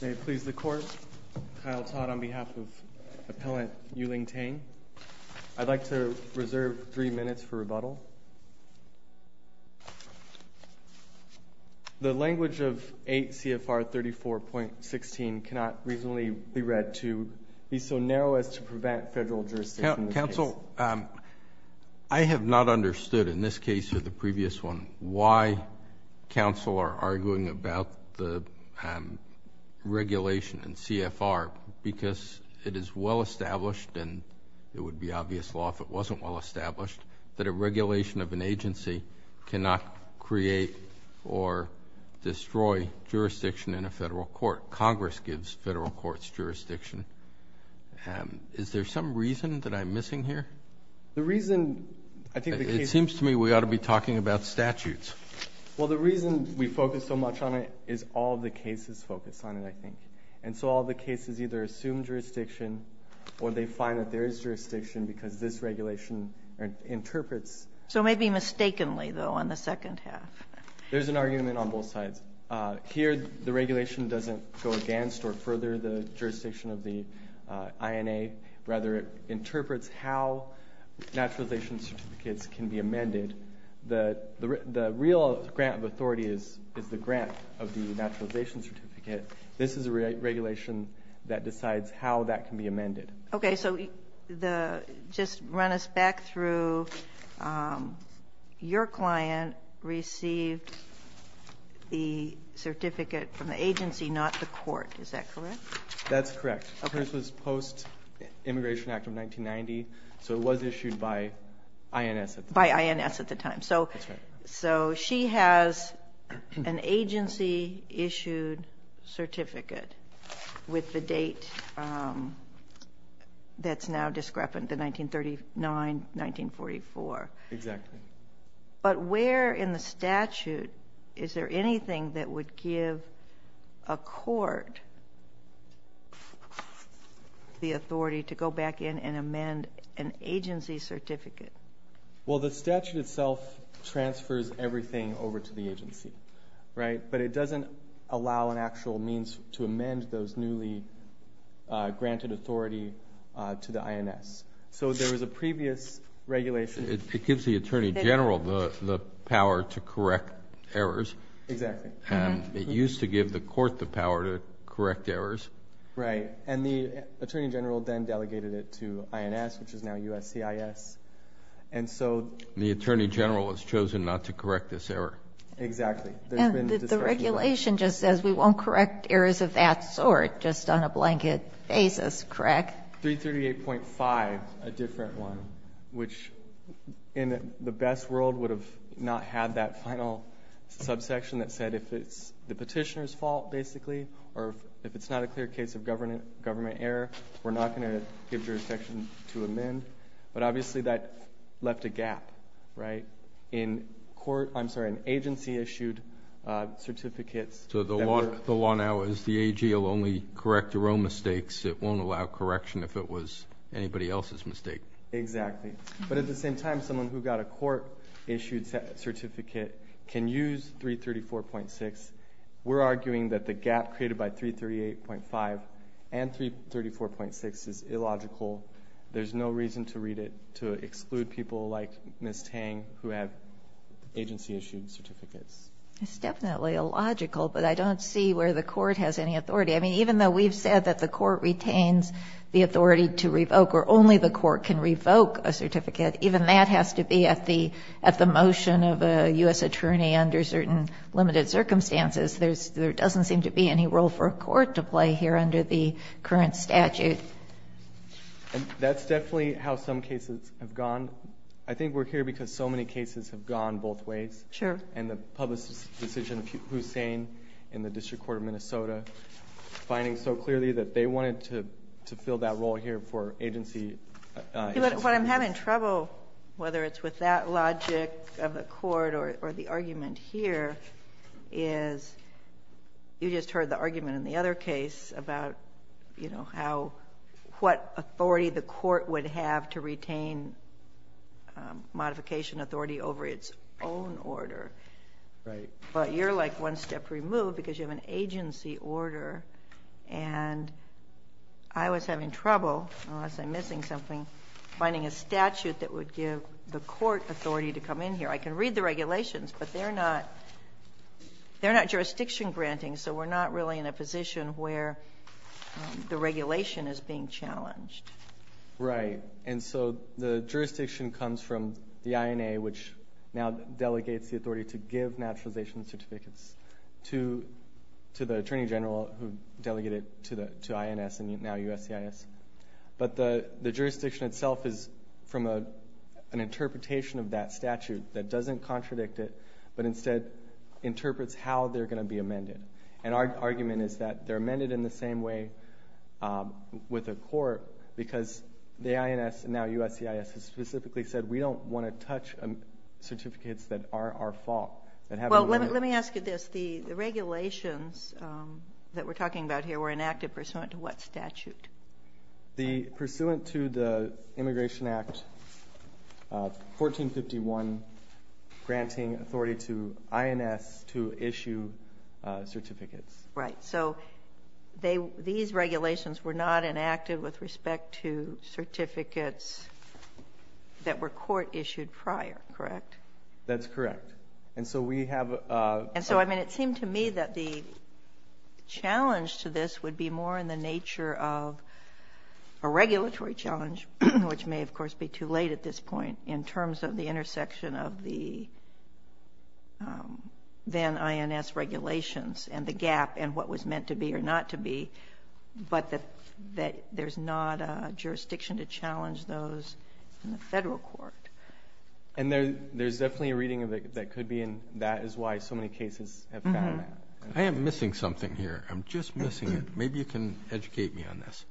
May it please the Court, Kyle Todd on behalf of Appellant Yu-Ling Teng, I'd like to reserve three minutes for rebuttal. The language of 8 CFR 34.16 cannot reasonably be read to be so narrow as to prevent federal jurisdiction in this case. Well, I have not understood in this case or the previous one why counsel are arguing about the regulation in CFR, because it is well established and it would be obvious law if it wasn't well established, that a regulation of an agency cannot create or destroy jurisdiction in a federal court. Congress gives federal courts jurisdiction. Is there some reason that I'm missing here? The reason I think the case It seems to me we ought to be talking about statutes. Well, the reason we focus so much on it is all the cases focus on it, I think. And so all the cases either assume jurisdiction or they find that there is jurisdiction because this regulation interprets. So maybe mistakenly, though, on the second half. There's an argument on both sides. Here the regulation doesn't go against or further the jurisdiction of the INA. Rather, it interprets how naturalization certificates can be amended. The real grant of authority is the grant of the naturalization certificate. This is a regulation that decides how that can be amended. Okay. So just run us back through. Your client received the certificate from the agency, not the court. Is that correct? That's correct. This was post-Immigration Act of 1990. So it was issued by INS at the time. By INS at the time. That's right. So she has an agency-issued certificate with the date that's now discrepant, the 1939-1944. Exactly. But where in the statute is there anything that would give a court the authority to go back in and amend an agency certificate? Well, the statute itself transfers everything over to the agency. But it doesn't allow an actual means to amend those newly granted authority to the INS. So there was a previous regulation. It gives the attorney general the power to correct errors. Exactly. It used to give the court the power to correct errors. Right. And the attorney general then delegated it to INS, which is now USCIS. And so the attorney general has chosen not to correct this error. Exactly. The regulation just says we won't correct errors of that sort just on a blanket basis, correct? 338.5, a different one, which in the best world would have not had that final subsection that said if it's the petitioner's fault, basically, or if it's not a clear case of government error, we're not going to give jurisdiction to amend. But obviously that left a gap, right, in agency-issued certificates. So the law now is the AG will only correct their own mistakes. It won't allow correction if it was anybody else's mistake. Exactly. But at the same time, someone who got a court-issued certificate can use 334.6. We're arguing that the gap created by 338.5 and 334.6 is illogical. There's no reason to read it to exclude people like Ms. Tang who have agency-issued certificates. It's definitely illogical, but I don't see where the court has any authority. I mean, even though we've said that the court retains the authority to revoke or only the court can revoke a certificate, even that has to be at the motion of a U.S. attorney under certain limited circumstances. There doesn't seem to be any role for a court to play here under the current statute. And that's definitely how some cases have gone. I think we're here because so many cases have gone both ways. Sure. And the publicist's decision, Hussein, in the District Court of Minnesota, finding so clearly that they wanted to fill that role here for agency-issued certificates. What I'm having trouble, whether it's with that logic of the court or the argument here, is you just heard the argument in the other case about, you know, how what authority the court would have to retain modification authority over its own order. Right. But you're, like, one step removed because you have an agency order. And I was having trouble, unless I'm missing something, finding a statute that would give the court authority to come in here. I can read the regulations, but they're not jurisdiction-granting, so we're not really in a position where the regulation is being challenged. Right. And so the jurisdiction comes from the INA, which now delegates the authority to give naturalization certificates to the Attorney General who delegated it to INS and now USCIS. But the jurisdiction itself is from an interpretation of that statute that doesn't contradict it, but instead interprets how they're going to be amended. And our argument is that they're amended in the same way with the court because the INS and now USCIS has specifically said we don't want to touch certificates that are our fault. Well, let me ask you this. The regulations that we're talking about here were enacted pursuant to what statute? The pursuant to the Immigration Act 1451 granting authority to INS to issue certificates. Right. So they – these regulations were not enacted with respect to certificates that were court-issued prior, correct? That's correct. And so we have a – And so, I mean, it seemed to me that the challenge to this would be more in the nature of a regulatory challenge, which may, of course, be too late at this point in terms of the intersection of the then INS regulations and the gap and what was meant to be or not to be, but that there's not a jurisdiction to challenge those in the Federal court. And there's definitely a reading of it that could be, and that is why so many cases have found that. I am missing something here. I'm just missing it. Maybe you can educate me on this.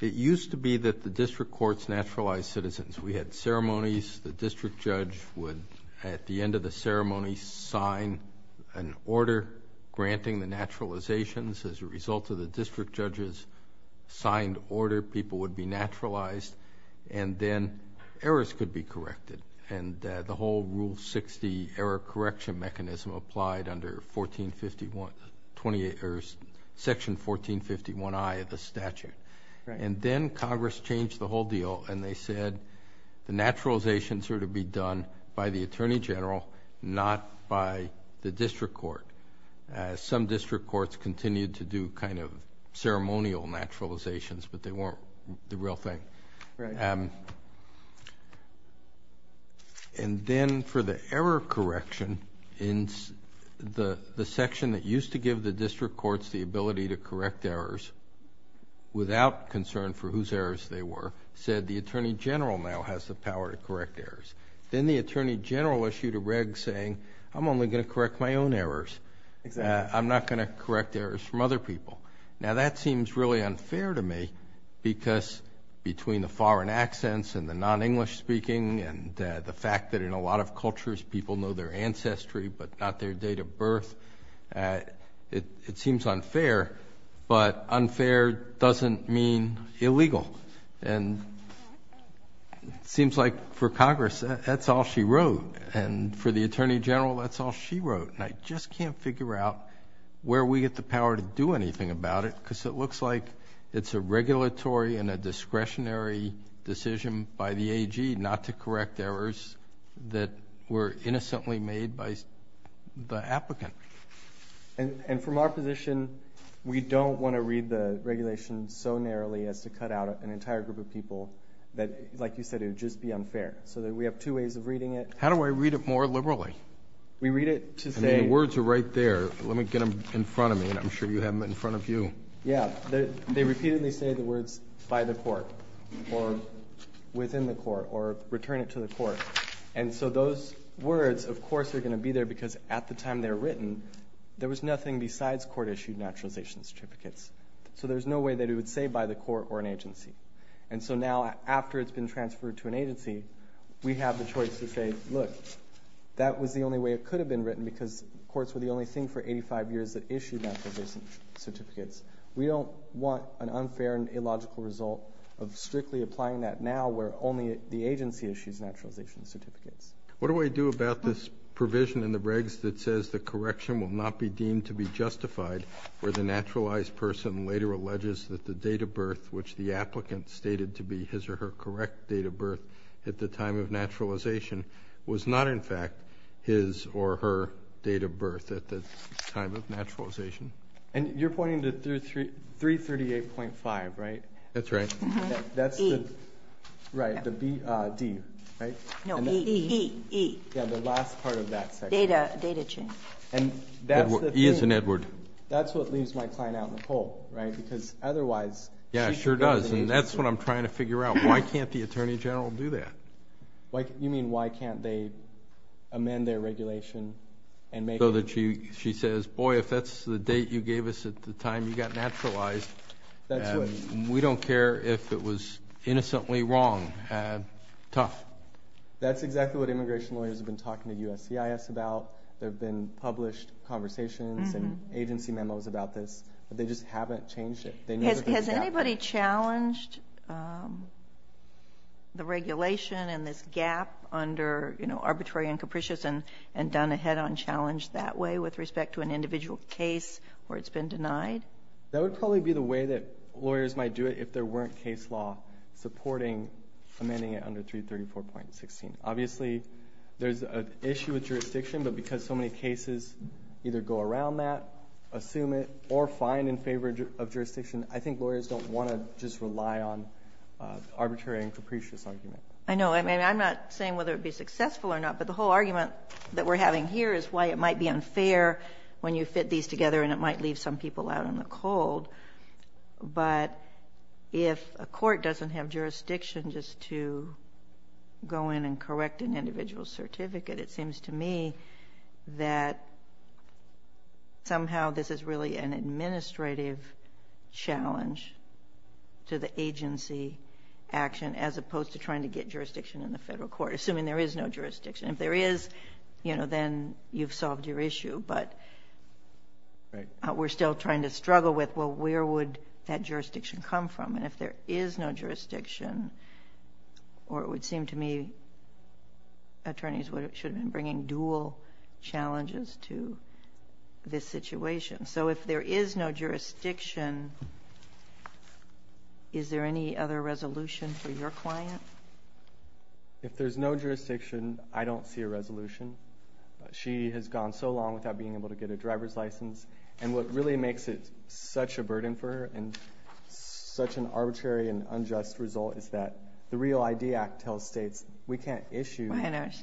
It used to be that the district courts naturalized citizens. We had ceremonies. The district judge would, at the end of the ceremony, sign an order granting the naturalizations. As a result of the district judge's signed order, people would be naturalized, and then errors could be corrected. And the whole Rule 60 error correction mechanism applied under Section 1451I of the statute. And then Congress changed the whole deal, and they said the naturalizations are to be done by the Attorney General, not by the district court. Some district courts continued to do kind of ceremonial naturalizations, but they weren't the real thing. And then for the error correction, the section that used to give the district courts the ability to correct errors without concern for whose errors they were said the Attorney General now has the power to correct errors. Then the Attorney General issued a reg saying, I'm only going to correct my own errors. I'm not going to correct errors from other people. Now, that seems really unfair to me because between the foreign accents and the non-English speaking and the fact that in a lot of cultures people know their ancestry but not their date of birth, it seems unfair. But unfair doesn't mean illegal. And it seems like for Congress that's all she wrote, and for the Attorney General that's all she wrote. And I just can't figure out where we get the power to do anything about it because it looks like it's a regulatory and a discretionary decision by the AG not to correct errors that were innocently made by the applicant. And from our position, we don't want to read the regulation so narrowly as to cut out an entire group of people that, like you said, it would just be unfair. So we have two ways of reading it. How do I read it more liberally? I mean, the words are right there. Let me get them in front of me, and I'm sure you have them in front of you. Yeah. They repeatedly say the words by the court or within the court or return it to the court. And so those words, of course, are going to be there because at the time they were written, there was nothing besides court-issued naturalization certificates. So there's no way that it would say by the court or an agency. And so now after it's been transferred to an agency, we have the choice to say, look, that was the only way it could have been written because courts were the only thing for 85 years that issued naturalization certificates. We don't want an unfair and illogical result of strictly applying that now where only the agency issues naturalization certificates. What do I do about this provision in the regs that says the correction will not be deemed to be justified where the naturalized person later alleges that the date of birth which the applicant stated to be his or her correct date of birth at the time of naturalization was not, in fact, his or her date of birth at the time of naturalization? And you're pointing to 338.5, right? That's right. E. Right, the D, right? No, E. E. Yeah, the last part of that section. Data change. E as in Edward. That's what leaves my client out in the poll, right, because otherwise she should go to the agency. Yeah, it sure does, and that's what I'm trying to figure out. Why can't the attorney general do that? You mean why can't they amend their regulation and make it? So that she says, boy, if that's the date you gave us at the time you got naturalized, we don't care if it was innocently wrong. Tough. That's exactly what immigration lawyers have been talking to USCIS about. There have been published conversations and agency memos about this, but they just haven't changed it. Has anybody challenged the regulation and this gap under arbitrary and capricious and done a head-on challenge that way with respect to an individual case where it's been denied? That would probably be the way that lawyers might do it if there weren't case law supporting amending it under 334.16. Obviously, there's an issue with jurisdiction, but because so many cases either go around that, assume it, or find in favor of jurisdiction, I think lawyers don't want to just rely on arbitrary and capricious argument. I know. I mean, I'm not saying whether it would be successful or not, but the whole argument that we're having here is why it might be unfair when you fit these together and it might leave some people out in the cold. But if a court doesn't have jurisdiction just to go in and correct an individual's certificate, it seems to me that somehow this is really an administrative challenge to the agency action as opposed to trying to get jurisdiction in the federal court, assuming there is no jurisdiction. If there is, you know, then you've solved your issue. But we're still trying to struggle with, well, where would that jurisdiction come from? And if there is no jurisdiction, or it would seem to me attorneys should have been bringing dual challenges to this situation. So if there is no jurisdiction, is there any other resolution for your client? If there's no jurisdiction, I don't see a resolution. She has gone so long without being able to get a driver's license, and what really makes it such a burden for her and such an arbitrary and unjust result is that the REAL-ID Act tells states we can't issue.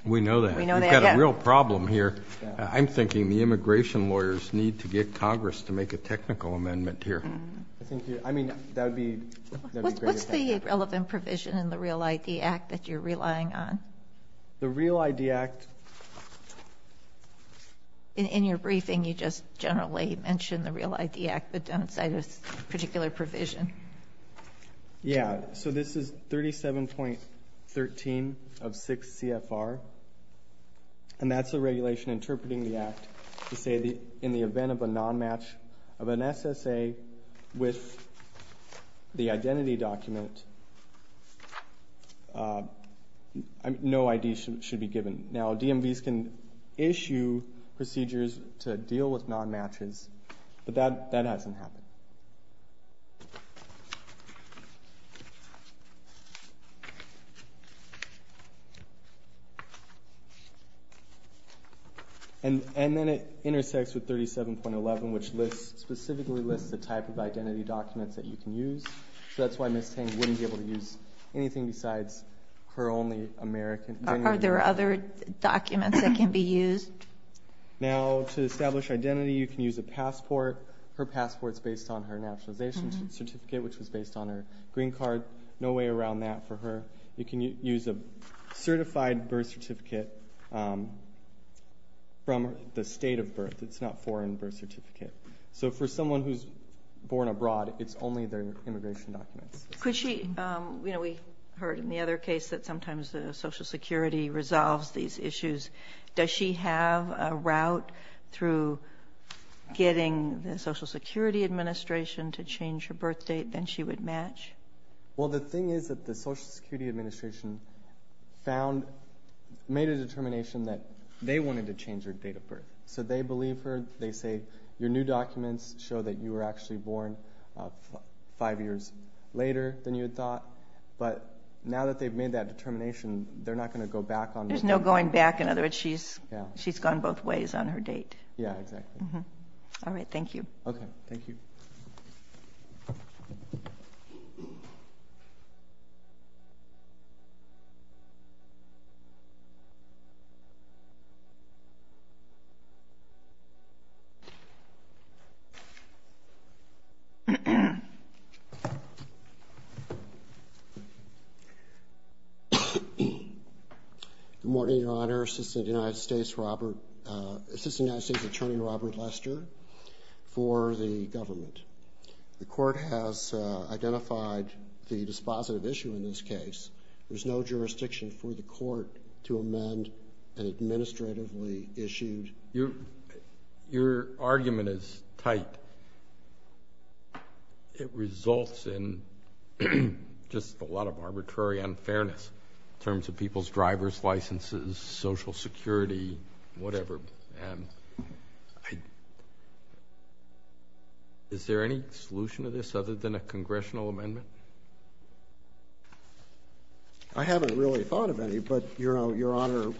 We know that. We know that. We've got a real problem here. I'm thinking the immigration lawyers need to get Congress to make a technical amendment here. I mean, that would be great. What's the relevant provision in the REAL-ID Act that you're relying on? The REAL-ID Act. In your briefing, you just generally mentioned the REAL-ID Act. But don't cite a particular provision. Yeah. So this is 37.13 of 6 CFR, and that's the regulation interpreting the act to say in the event of a nonmatch of an SSA with the identity document, no ID should be given. Now, DMVs can issue procedures to deal with nonmatches, but that hasn't happened. And then it intersects with 37.11, which specifically lists the type of identity documents that you can use. So that's why Ms. Tang wouldn't be able to use anything besides her only American. Are there other documents that can be used? Now, to establish identity, you can use a passport. Her passport's based on her nationalization certificate, which was based on her green card. No way around that for her. You can use a certified birth certificate from the state of birth. It's not a foreign birth certificate. So for someone who's born abroad, it's only their immigration documents. We heard in the other case that sometimes Social Security resolves these issues. Does she have a route through getting the Social Security Administration to change her birth date than she would match? Well, the thing is that the Social Security Administration made a determination that they wanted to change her date of birth. So they believe her. They say your new documents show that you were actually born five years later than you had thought. But now that they've made that determination, they're not going to go back on it. There's no going back. In other words, she's gone both ways on her date. Yeah, exactly. All right, thank you. Okay, thank you. Good morning, Your Honor. Assistant United States Attorney Robert Lester for the government. The court has identified the dispositive issue in this case. There's no jurisdiction for the court to amend an administratively issued. Your argument is tight. But it results in just a lot of arbitrary unfairness in terms of people's driver's licenses, Social Security, whatever. Is there any solution to this other than a congressional amendment? I haven't really thought of any, but, Your Honor,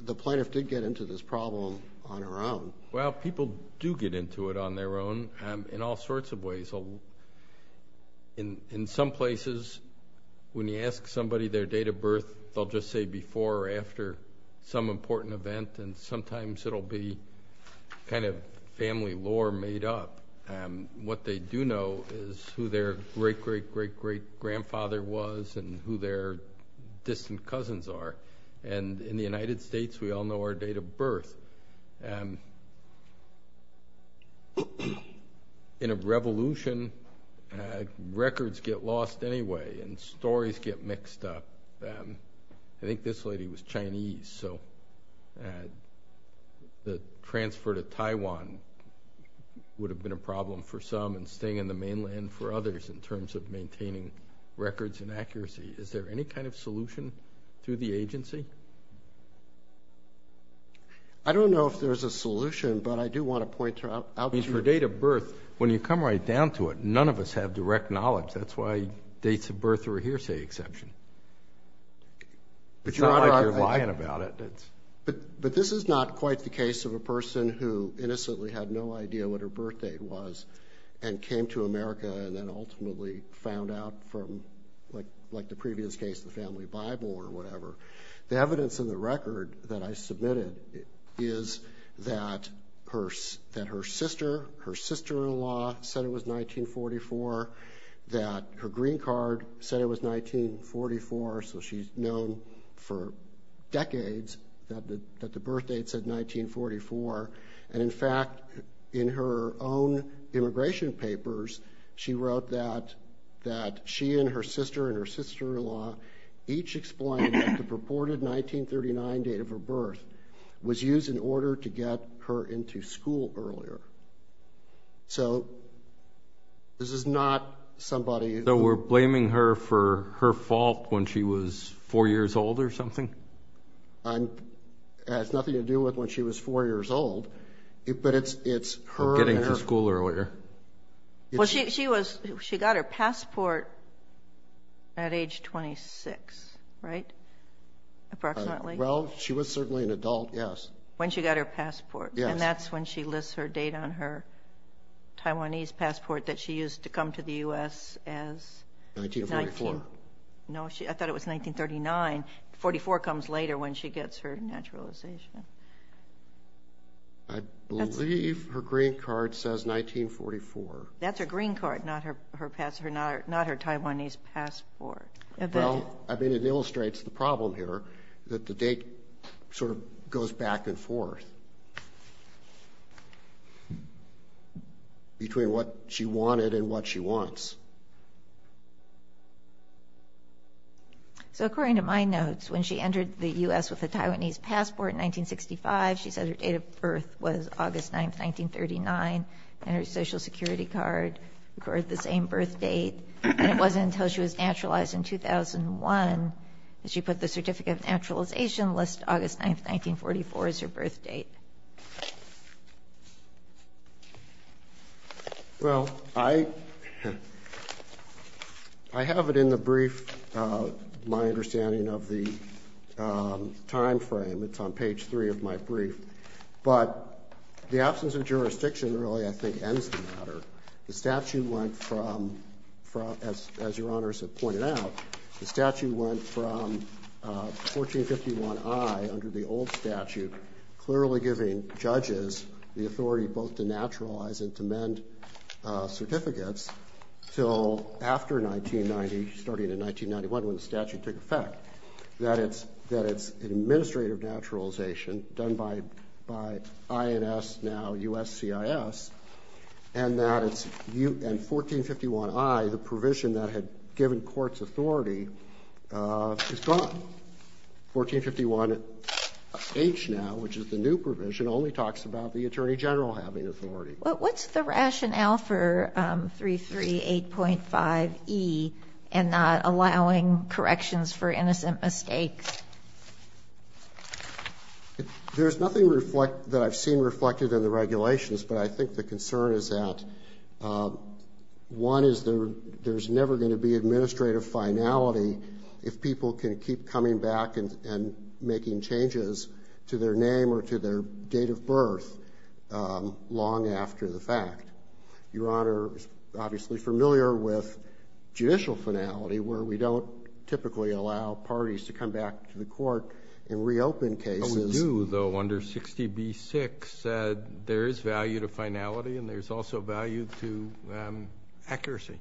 the plaintiff did get into this problem on her own. Well, people do get into it on their own in all sorts of ways. In some places, when you ask somebody their date of birth, they'll just say before or after some important event, and sometimes it'll be kind of family lore made up. What they do know is who their great-great-great-great-grandfather was and who their distant cousins are. And in the United States, we all know our date of birth. In a revolution, records get lost anyway and stories get mixed up. I think this lady was Chinese, so the transfer to Taiwan would have been a problem for some and staying in the mainland for others in terms of maintaining records and accuracy. Is there any kind of solution through the agency? I don't know if there's a solution, but I do want to point out to you. I mean, for date of birth, when you come right down to it, none of us have direct knowledge. That's why dates of birth are a hearsay exception. It's not like you're lying about it. But this is not quite the case of a person who innocently had no idea what her birthday was and came to America and then ultimately found out from, like the previous case, the family Bible or whatever. The evidence in the record that I submitted is that her sister, her sister-in-law, said it was 1944, that her green card said it was 1944, so she's known for decades that the birth date said 1944. And, in fact, in her own immigration papers, she wrote that she and her sister and her sister-in-law each explained that the purported 1939 date of her birth was used in order to get her into school earlier. So this is not somebody who... So we're blaming her for her fault when she was four years old or something? It has nothing to do with when she was four years old, but it's her... Getting to school earlier. Well, she got her passport at age 26, right, approximately? Well, she was certainly an adult, yes. When she got her passport. Yes. And that's when she lists her date on her Taiwanese passport that she used to come to the U.S. as... 1944. No, I thought it was 1939. 1944 comes later when she gets her naturalization. I believe her green card says 1944. That's her green card, not her Taiwanese passport. Well, I mean, it illustrates the problem here, that the date sort of goes back and forth between what she wanted and what she wants. So according to my notes, when she entered the U.S. with a Taiwanese passport in 1965, she said her date of birth was August 9th, 1939, and her Social Security card recorded the same birth date. And it wasn't until she was naturalized in 2001 that she put the certificate of naturalization list August 9th, 1944 as her birth date. Well, I have it in the brief, my understanding of the time frame. It's on page 3 of my brief. But the absence of jurisdiction really, I think, ends the matter. The statute went from, as Your Honors have pointed out, the statute went from 1451I under the old statute, clearly giving judges the authority both to naturalize and to mend certificates, until after 1990, starting in 1991 when the statute took effect, that it's an administrative naturalization done by INS, now USCIS, and 1451I, the provision that had given courts authority, is gone. 1451H now, which is the new provision, only talks about the attorney general having authority. But what's the rationale for 338.5E and not allowing corrections for innocent mistakes? There's nothing that I've seen reflected in the regulations, but I think the concern is that one is there's never going to be administrative finality if people can keep coming back and making changes to their name or to their date of birth long after the fact. Your Honor is obviously familiar with judicial finality, where we don't typically allow parties to come back to the court and reopen cases. But we do, though, under 60B6. There is value to finality, and there's also value to accuracy.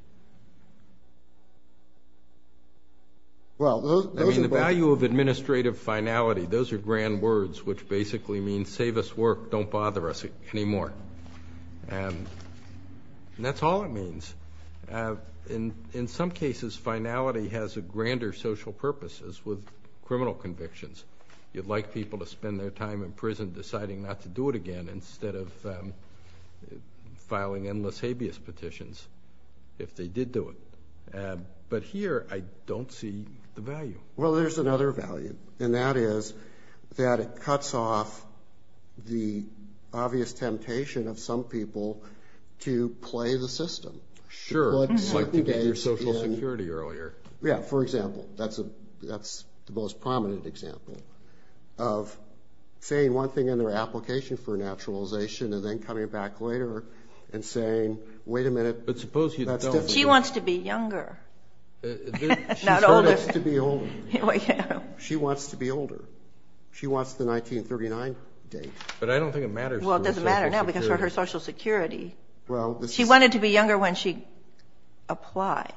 I mean, the value of administrative finality, those are grand words, which basically means save us work, don't bother us anymore. And that's all it means. In some cases, finality has a grander social purpose, as with criminal convictions. You'd like people to spend their time in prison deciding not to do it again instead of filing endless habeas petitions. But here, I don't see the value. Well, there's another value, and that is that it cuts off the obvious temptation of some people to play the system. Sure. You'd like to get your Social Security earlier. Yeah. For example, that's the most prominent example of saying one thing in their application for a naturalization and then coming back later and saying, wait a minute. But suppose you don't. She wants to be younger, not older. She told us to be older. She wants to be older. She wants the 1939 date. But I don't think it matters to her Social Security. Well, it doesn't matter now, because for her Social Security, she wanted to be younger when she applied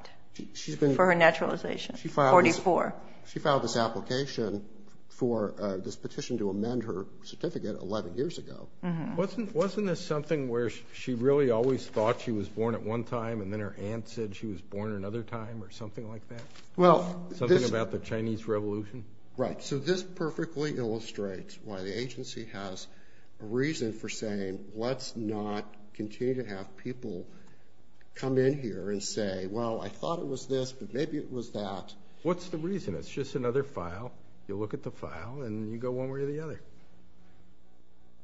for her naturalization, 44. She filed this application for this petition to amend her certificate 11 years ago. Wasn't this something where she really always thought she was born at one time, and then her aunt said she was born another time or something like that? Something about the Chinese Revolution? Right. So this perfectly illustrates why the agency has a reason for saying let's not continue to have people come in here and say, well, I thought it was this, but maybe it was that. What's the reason? It's just another file. You look at the file and you go one way or the other.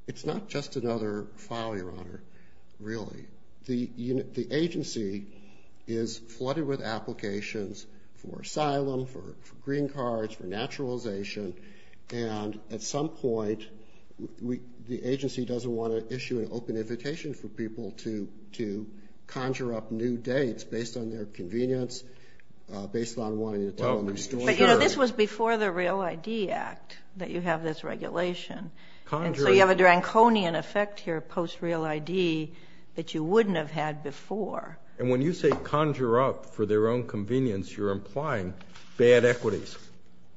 It's not just another file, Your Honor, really. The agency is flooded with applications for asylum, for green cards, for naturalization, and at some point the agency doesn't want to issue an open invitation for people to conjure up new dates based on their convenience, based on wanting to tell a new story. But, you know, this was before the REAL ID Act that you have this regulation. And so you have a draconian effect here post REAL ID that you wouldn't have had before. And when you say conjure up for their own convenience, you're implying bad equities.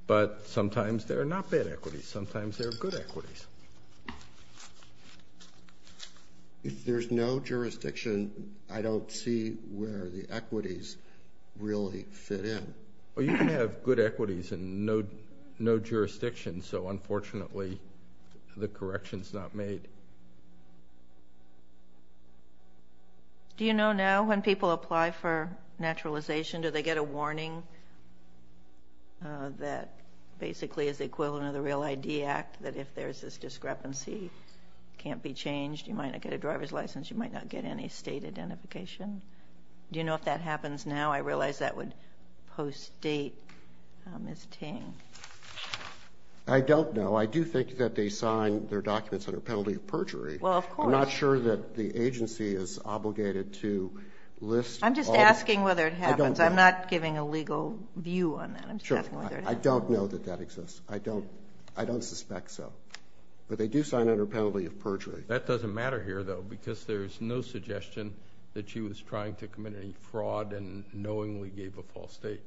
But sometimes they're not bad equities. Sometimes they're good equities. If there's no jurisdiction, I don't see where the equities really fit in. Well, you can have good equities and no jurisdiction, so unfortunately the correction's not made. Do you know now when people apply for naturalization, do they get a warning that basically is the equivalent of the REAL ID Act, that if there's this discrepancy, it can't be changed, you might not get a driver's license, you might not get any state identification? Do you know if that happens now? I realize that would post-date Ms. Ting. I don't know. I do think that they sign their documents under penalty of perjury. Well, of course. I'm not sure that the agency is obligated to list all of them. I'm just asking whether it happens. I'm not giving a legal view on that. I'm just asking whether it happens. Sure. I don't know that that exists. I don't suspect so. But they do sign under penalty of perjury. That doesn't matter here, though, because there's no suggestion that she was trying to commit any fraud and knowingly gave a false state.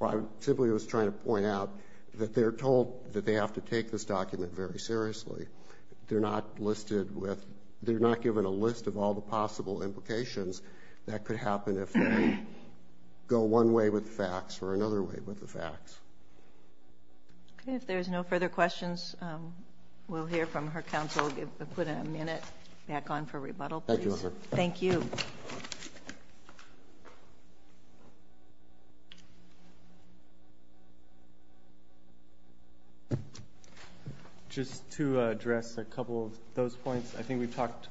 I simply was trying to point out that they're told that they have to take this document very seriously. They're not given a list of all the possible implications that could happen if they go one way with the facts or another way with the facts. Okay. If there's no further questions, we'll hear from her counsel. We'll put a minute back on for rebuttal, please. Thank you. Thank you. Just to address a couple of those points, I think we've talked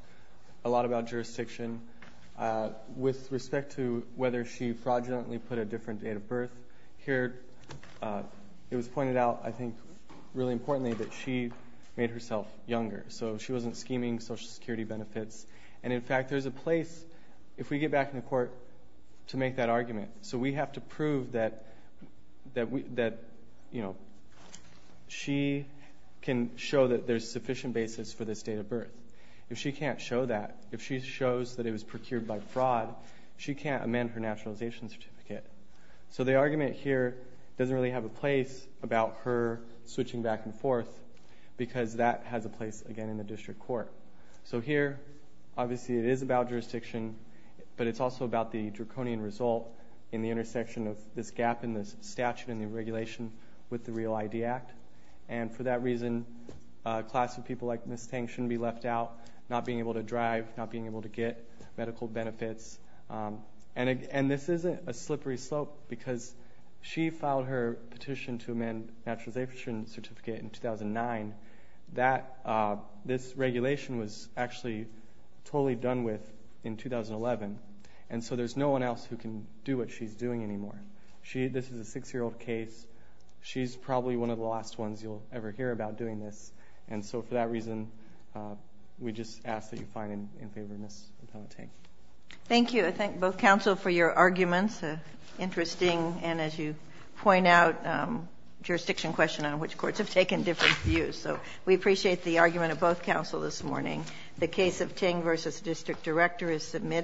a lot about jurisdiction. With respect to whether she fraudulently put a different date of birth, here it was pointed out, I think, really importantly, that she made herself younger. So she wasn't scheming Social Security benefits. And, in fact, there's a place, if we get back in the court, to make that argument. So we have to prove that she can show that there's sufficient basis for this date of birth. If she can't show that, if she shows that it was procured by fraud, she can't amend her naturalization certificate. So the argument here doesn't really have a place about her switching back and forth because that has a place, again, in the district court. So here, obviously, it is about jurisdiction, but it's also about the draconian result in the intersection of this gap in this statute and the regulation with the Real ID Act. And for that reason, a class of people like Ms. Tang shouldn't be left out, not being able to drive, not being able to get medical benefits. And this is a slippery slope because she filed her petition to amend naturalization certificate in 2009. This regulation was actually totally done with in 2011. And so there's no one else who can do what she's doing anymore. This is a 6-year-old case. She's probably one of the last ones you'll ever hear about doing this. And so for that reason, we just ask that you find in favor of Ms. Tang. Thank you. I thank both counsel for your arguments. Interesting, and as you point out, jurisdiction question on which courts have taken different views. So we appreciate the argument of both counsel this morning. The case of Tang v. District Director is submitted.